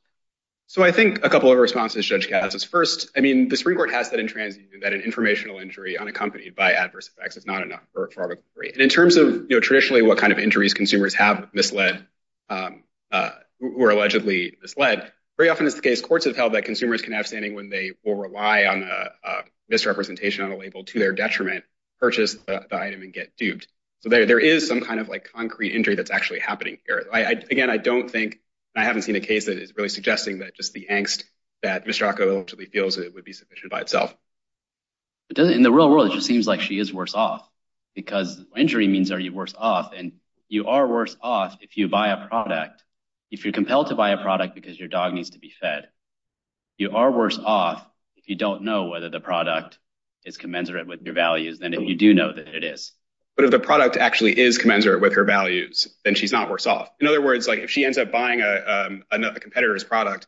So I think a couple of responses, Judge Gatz is first, I mean, the Supreme Court has said in transit that an informational injury unaccompanied by adverse effects is not enough for the three. And in terms of traditionally, what kind of injuries consumers have misled or allegedly misled, very often is the case courts have held that consumers can have standing when they will rely on misrepresentation on a label to their detriment, purchase the item and get duped. So there is some kind of like concrete injury that's actually happening here. Again, I don't think I haven't seen a case that is really suggesting that just the angst that Mistraco actually feels it would be sufficient by itself. In the real world, it just seems like she is worse off because injury means are you worse off? And you are worse off if you buy a product, if you're compelled to buy a product because your dog needs to be fed. You are worse off if you don't know whether the product is commensurate with your values than if you do know that it is. But if the product actually is commensurate with her values, then she's not worse off. In other words, like if she ends up buying a competitor's product,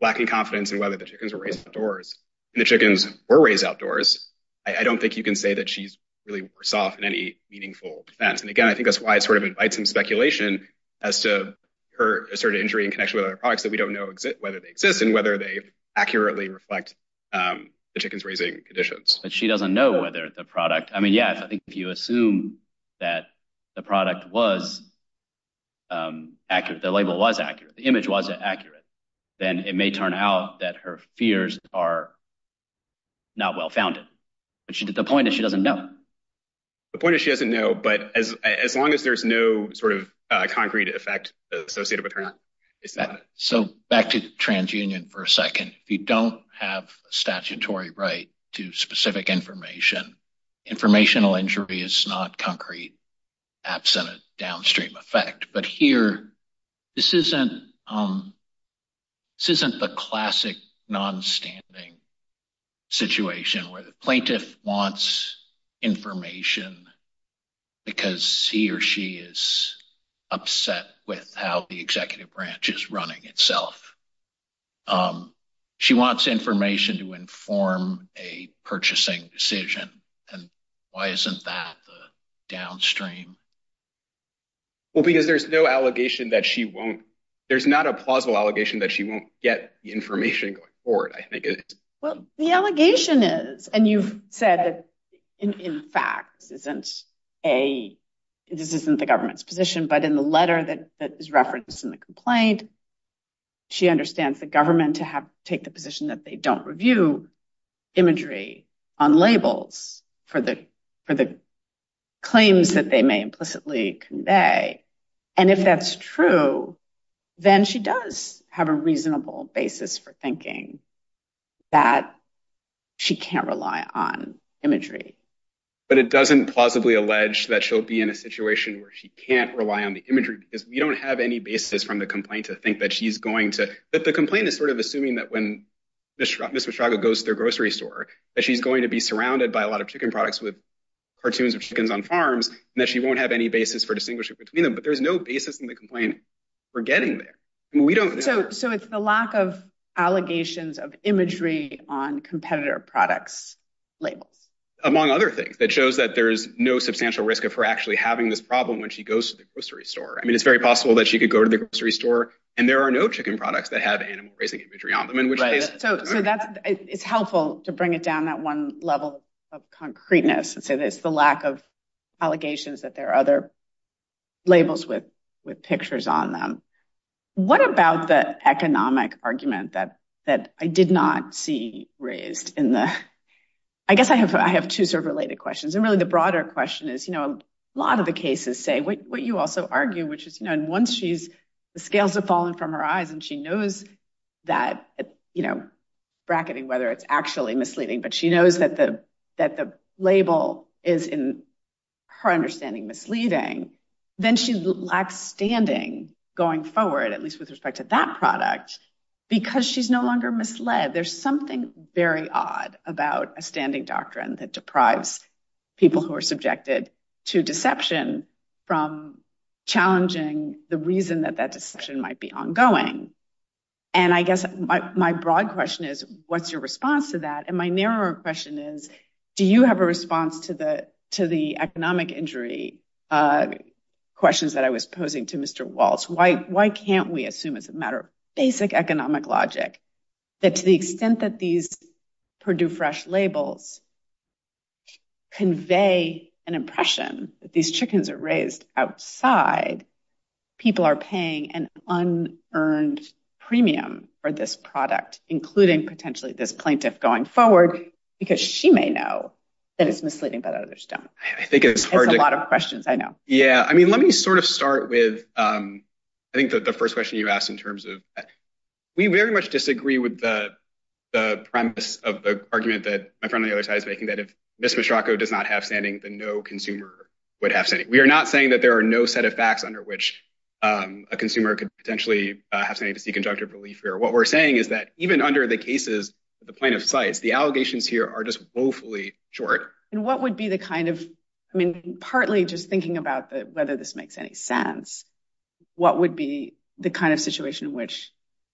lacking confidence in whether the chickens were raised outdoors and the chickens were raised outdoors, I don't think you can say that she's really worse off in any meaningful sense. And again, I think that's why it sort of invites some speculation as to her asserted injury in connection with other products that we don't know whether they exist and whether they accurately reflect the chickens raising conditions. But she doesn't know whether the product I mean, yes, I think if you assume that the product was accurate, the label was accurate, the image wasn't accurate, then it may turn out that her fears are not well founded. But the point is, she doesn't know. The point is, she doesn't know, but as long as there's no sort of concrete effect associated with her, it's not. So back to TransUnion for a second, if you don't have a statutory right to specific information, informational injury is not concrete, absent a downstream effect. But here, this isn't this isn't the classic non-standing situation where the person wants information because he or she is upset with how the executive branch is running itself. She wants information to inform a purchasing decision. And why isn't that the downstream? Well, because there's no allegation that she won't there's not a plausible allegation that she won't get the information going forward, I think. Well, the allegation is and you've said that, in fact, this isn't a this isn't the government's position, but in the letter that is referenced in the complaint, she understands the government to have to take the position that they don't review imagery on labels for the for the claims that they may implicitly convey. And if that's true, then she does have a reasonable basis for thinking. That she can't rely on imagery, but it doesn't plausibly allege that she'll be in a situation where she can't rely on the imagery because we don't have any basis from the complaint to think that she's going to that the complaint is sort of assuming that when this Mr. Chaga goes to their grocery store, that she's going to be surrounded by a lot of chicken products with cartoons of chickens on farms and that she won't have any basis for distinguishing between them. But there's no basis in the complaint for getting there. We don't know. So it's the lack of allegations of imagery on competitor products, labels, among other things that shows that there is no substantial risk of her actually having this problem when she goes to the grocery store. I mean, it's very possible that she could go to the grocery store and there are no chicken products that have animal raising imagery on them in which case. So that's it's helpful to bring it down that one level of concreteness. And so it's the lack of allegations that there are other labels with with pictures on them. What about the economic argument that that I did not see raised in the I guess I have I have two sort of related questions and really the broader question is, you know, a lot of the cases say what you also argue, which is, you know, and once she's the scales have fallen from her eyes and she knows that, you know, bracketing whether it's actually misleading, but she knows that the that the label is in her understanding misleading, then she lacks standing going forward, at least with respect to that product because she's no longer misled. There's something very odd about a standing doctrine that deprives people who are subjected to deception from challenging the reason that that deception might be ongoing. And I guess my broad question is, what's your response to that? And my narrow question is, do you have a response to the to the economic injury questions that I was posing to Mr. Waltz? Why can't we assume as a matter of basic economic logic that to the extent that these Purdue Fresh labels. Convey an impression that these chickens are raised outside, people are paying an unearned premium for this product, including potentially this plaintiff going forward because she may know that it's misleading, but others don't. I think it's a lot of questions. I know. Yeah. I mean, let me sort of start with I think that the first question you asked in terms of we very much disagree with the premise of the argument that my friend on the other side is making that if Ms. Mishrako does not have standing, then no consumer would have standing. We are not saying that there are no set of facts under which a consumer could potentially have to seek injunctive relief here. What we're saying is that even under the cases, the plaintiff sites, the allegations here are just woefully short. And what would be the kind of I mean, partly just thinking about whether this makes any sense, what would be the kind of situation in which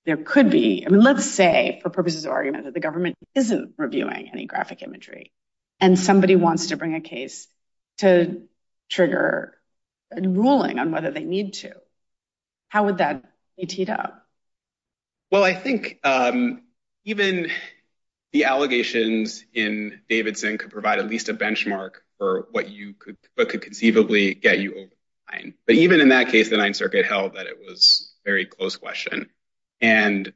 there could be? I mean, let's say for purposes of argument that the government isn't reviewing any graphic imagery and somebody wants to bring a case to trigger a ruling on whether they need to. How would that be teed up? Well, I think even the allegations in Davidson could provide at least a benchmark for what you could but could conceivably get you over. But even in that case, the Ninth Circuit held that it was a very close question. And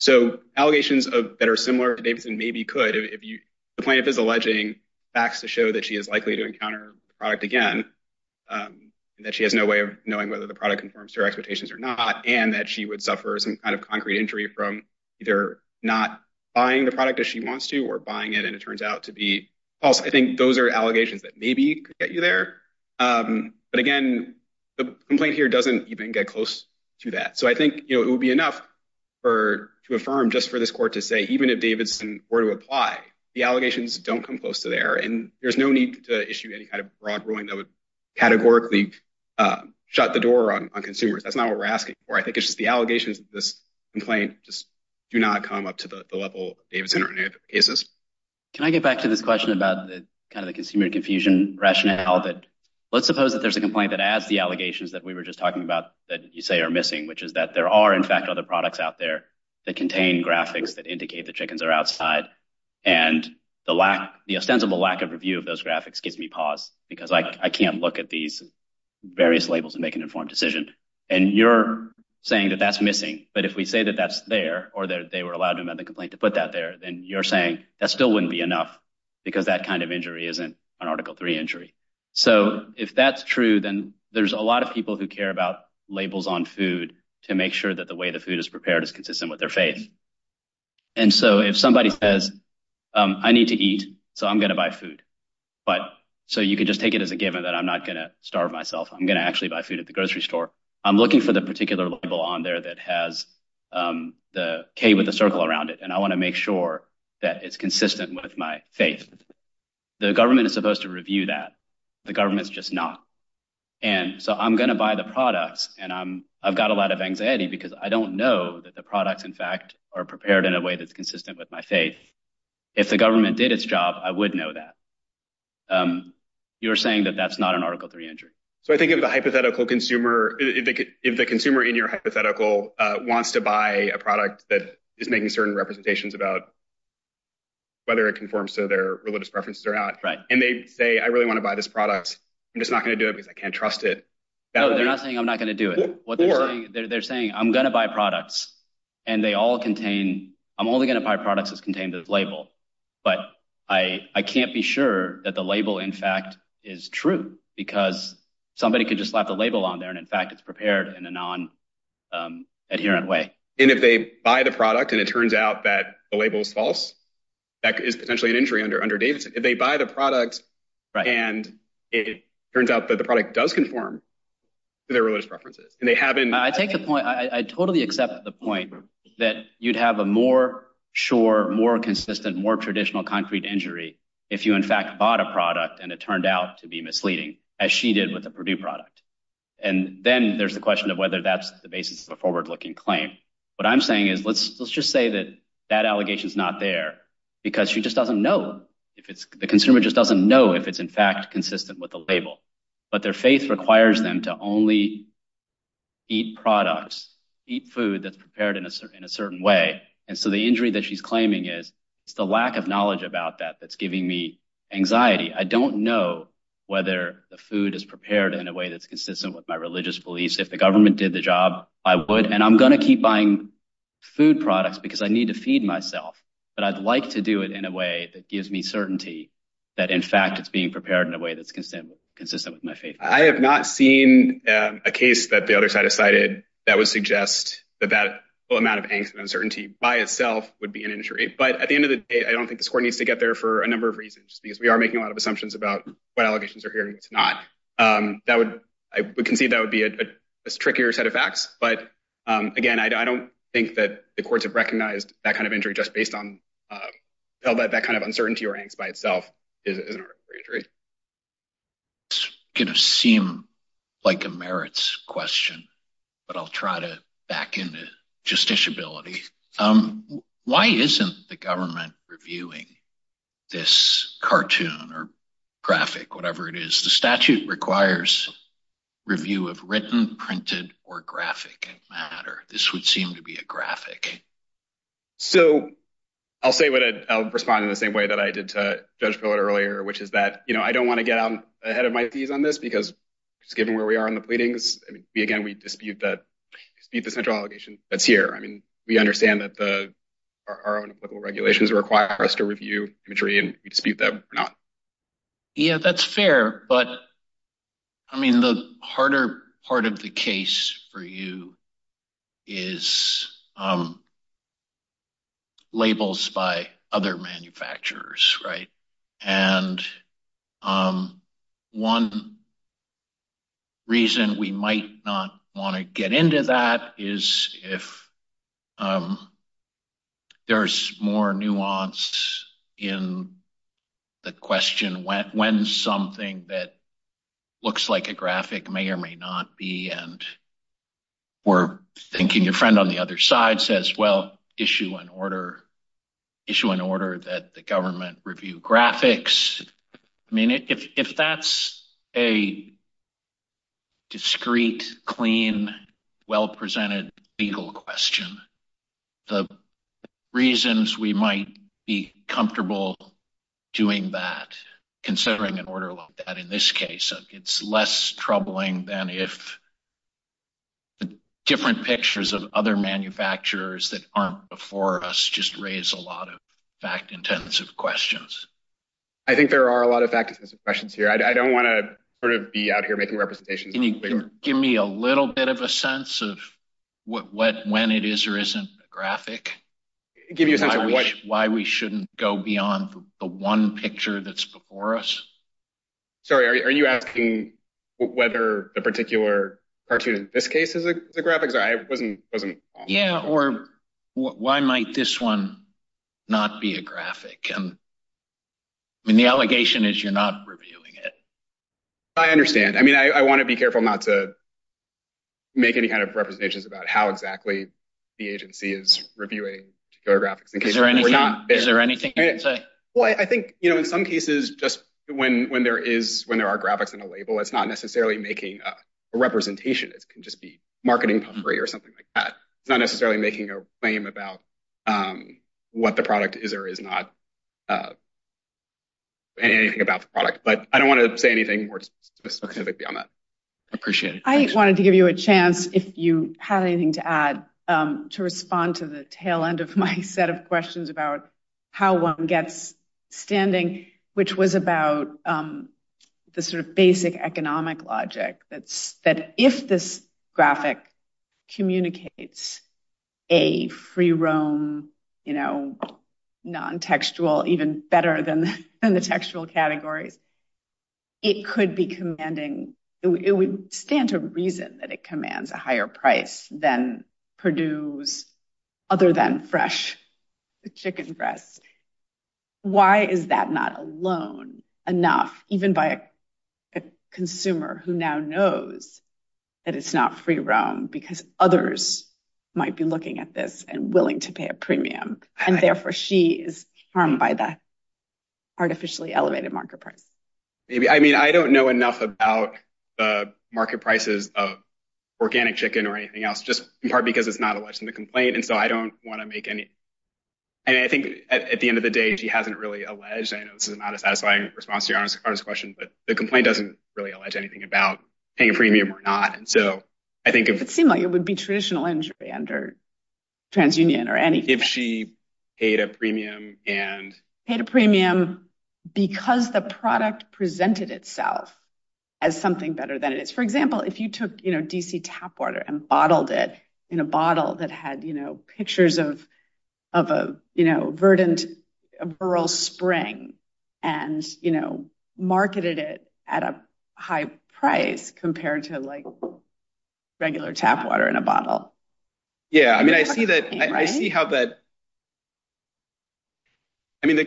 so allegations that are similar to Davidson maybe could if you the plaintiff is alleging facts to show that she is likely to encounter the product again, that she has no way of knowing whether the product conforms to her expectations or not, and that she would suffer some kind of concrete injury from either not buying the product that she wants to or buying it. And it turns out to be also I think those are allegations that maybe get you there. But again, the complaint here doesn't even get close to that. So I think it would be enough for to affirm just for this court to say even if Davidson were to apply, the allegations don't come close to there. And there's no need to issue any kind of broad ruling that would categorically shut the door on consumers. That's not what we're asking for. I think it's just the allegations of this complaint just do not come up to the level of Davidson or any other cases. Can I get back to this question about the kind of the consumer confusion rationale that let's suppose that there's a complaint that adds the allegations that we were just talking about that you say are missing, which is that there are, in fact, other products out there that contain graphics that indicate the chickens are outside and the lack the extensible lack of review of those graphics gives me pause because I can't look at these various labels and make an informed decision. And you're saying that that's missing. But if we say that that's there or that they were allowed to make the complaint to put that there, then you're saying that still wouldn't be enough because that kind of injury isn't an Article three injury. So if that's true, then there's a lot of people who care about labels on food to make sure that the way the food is prepared is consistent with their faith. And so if somebody says, I need to eat, so I'm going to buy food, but so you could just take it as a given that I'm not going to starve myself, I'm going to actually buy food at the grocery store, I'm looking for the particular label on there that has the K with the circle around it, and I want to make sure that it's consistent with my faith. The government is supposed to review that the government's just not. And so I'm going to buy the products and I've got a lot of anxiety because I don't know that the products, in fact, are prepared in a way that's consistent with my faith. If the government did its job, I would know that. You're saying that that's not an Article three injury. So I think of the hypothetical consumer, if the consumer in your hypothetical wants to buy a product that is making certain representations about. Whether it conforms to their religious preferences or not, right, and they say, I really want to buy this product, I'm just not going to do it because I can't trust it. No, they're not saying I'm not going to do it. They're saying I'm going to buy products and they all contain I'm only going to buy products that contain the label. But I can't be sure that the label, in fact, is true because somebody could just slap the label on there. And in fact, it's prepared in a non adherent way. And if they buy the product and it turns out that the label is false, that is potentially an injury under under Davidson. If they buy the product and it turns out that the product does conform to their religious preferences and they haven't. I take the point. I totally accept the point that you'd have a more sure, more consistent, more traditional concrete injury if you in fact bought a product and it turned out to be misleading, as she did with the Purdue product. And then there's the question of whether that's the basis of a forward looking claim. What I'm saying is let's let's just say that that allegation is not there because she just doesn't know if it's the consumer just doesn't know if it's in fact consistent with the label. But their faith requires them to only eat products, eat food that's prepared in a certain in a certain way. And so the injury that she's claiming is it's the lack of knowledge about that that's giving me anxiety. I don't know whether the food is prepared in a way that's consistent with my religious beliefs. If the government did the job, I would and I'm going to keep buying food products because I need to feed myself. But I'd like to do it in a way that gives me certainty that, in fact, it's being prepared in a way that's consistent, consistent with my faith. I have not seen a case that the other side decided that would suggest that that amount of angst and uncertainty by itself would be an injury. But at the end of the day, I don't think the court needs to get there for a number of reasons, because we are making a lot of assumptions about what allegations are here. It's not that would I would concede that would be a trickier set of facts. But again, I don't think that the courts have recognized that kind of injury just based on that kind of uncertainty or angst by itself is an injury. It's going to seem like a merits question, but I'll try to back into justiciability. Why isn't the government reviewing this cartoon or graphic, whatever it is? The statute requires review of written, printed or graphic matter. This would seem to be a graphic. So I'll say what I'll respond in the same way that I did to judge earlier, which is that, you know, I don't want to get ahead of my feet on this because given where we are in the pleadings, again, we dispute that, dispute the central allegation that's here. I mean, we understand that the our own applicable regulations require us to review imagery and dispute that or not. Yeah, that's fair, but. I mean, the harder part of the case for you is. Labels by other manufacturers, right, and. One reason we might not want to get into that is if there's more nuance in the question when something that looks like a graphic may or may not be, and we're thinking your friend on the other side says, well, issue an order, issue an order that the government review graphics, I mean, if that's a. Discreet, clean, well-presented legal question, the reasons we might be comfortable doing that, considering an order like that in this case, it's less troubling than if. Different pictures of other manufacturers that aren't before us just raise a lot of fact questions. I think there are a lot of questions here. I don't want to sort of be out here making representations. Can you give me a little bit of a sense of what when it is or isn't a graphic, give you a sense of why we shouldn't go beyond the one picture that's before us? Sorry, are you asking whether the particular cartoon in this case is the graphics? I wasn't wasn't. Yeah. Or why might this one not be a graphic? And. And the allegation is you're not reviewing it, I understand, I mean, I want to be careful not to. Make any kind of representations about how exactly the agency is reviewing your graphics, is there anything you can say? Well, I think in some cases, just when when there is when there are graphics in a label, it's not necessarily making a representation. It can just be marketing or something like that. It's not necessarily making a claim about what the product is or is not. And anything about the product, but I don't want to say anything more specifically on that, appreciate it. I wanted to give you a chance if you had anything to add to respond to the tail end of my set of questions about how one gets standing, which was about the sort of basic economic logic that's that if this graphic communicates a free roam, you know, non textual, even better than the textual categories. It could be commanding, it would stand to reason that it commands a higher price than Purdue's other than fresh chicken breasts. Why is that not alone enough, even by a consumer who now knows that it's not free roam because others might be looking at this and willing to pay a premium and therefore she is harmed by the artificially elevated market price? Maybe I mean, I don't know enough about the market prices of organic chicken or anything else, just in part because it's not a lesson to complain. And so I don't want to make any. And I think at the end of the day, she hasn't really alleged, I know this is not a satisfying response to your question, but the complaint doesn't really allege anything about paying a premium or not. And so I think it would seem like it would be traditional injury under TransUnion or any if she paid a premium and paid a premium because the product presented itself as something better than it is. For example, if you took DC tap water and bottled it in a bottle that had pictures of of a verdant, rural spring and marketed it at a high price compared to like regular tap water in a bottle. Yeah, I mean, I see that I see how that. I mean,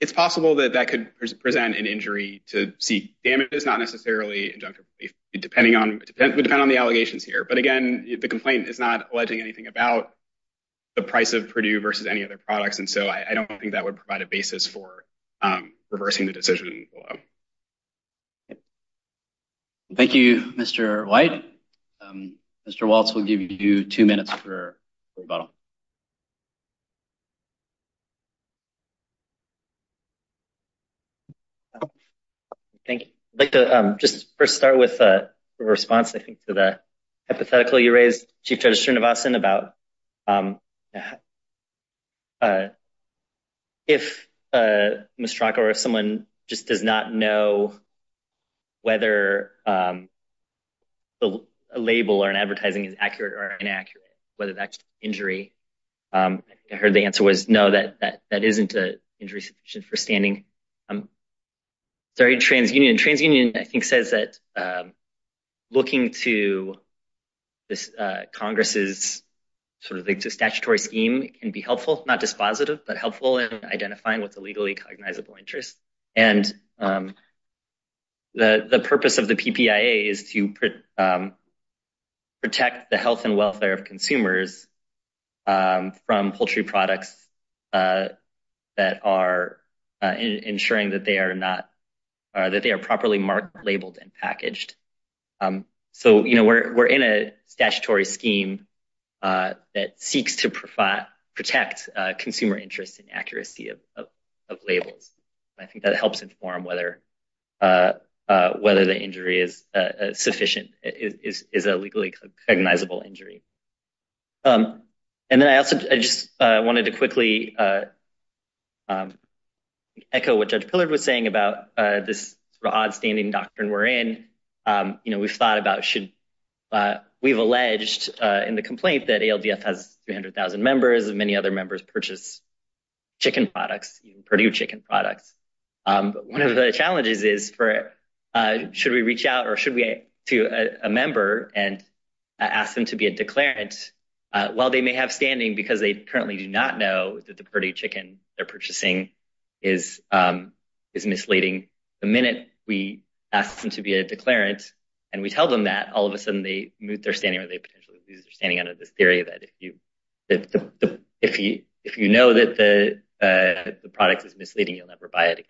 it's possible that that could present an injury to see damage is not necessarily injunctive, depending on the allegations here, but again, the complaint is not alleging anything about the price of Purdue versus any other products. And so I don't think that would provide a basis for reversing the decision. Thank you, Mr. White, Mr. Waltz, we'll give you two minutes for rebuttal. Thank you, but just first start with a response, I think, to that hypothetical you talked about. If a mistrack or if someone just does not know. Whether a label or an advertising is accurate or inaccurate, whether that's injury, I heard the answer was no, that that that isn't an injury for standing. I'm sorry, TransUnion, TransUnion, I think, says that looking to this Congress is sort of the statutory scheme can be helpful, not dispositive, but helpful in identifying what's a legally cognizable interest. And the purpose of the PPA is to protect the health and welfare of consumers from poultry products that are ensuring that they are not that they are properly marked, labeled and packaged. So, you know, we're in a statutory scheme that seeks to protect consumer interest and accuracy of labels. I think that helps inform whether whether the injury is sufficient, is a legally cognizable injury. And then I also just wanted to quickly echo what Judge Pillard was saying about this sort of odd standing doctrine we're in. You know, we've thought about should we've alleged in the complaint that ALDF has 300,000 members and many other members purchase chicken products, Purdue chicken products. One of the challenges is for should we reach out or should we to a member and ask them to be a declarant while they may have standing because they currently do not know that the purdue chicken they're purchasing is is misleading the minute we ask them to be a declarant and we tell them that all of a sudden they move, they're standing or they potentially standing under this theory that if you if you if you know that the product is a product of the consumer society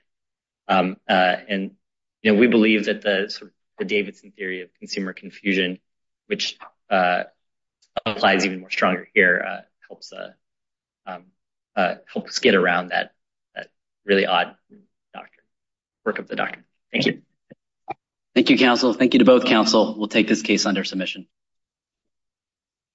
and, you know, we believe that the Davidson theory of consumer confusion, which applies even more stronger here, helps helps get around that that really odd doctrine, work of the doctrine. Thank you. Thank you, counsel. Thank you to both counsel. We'll take this case under submission.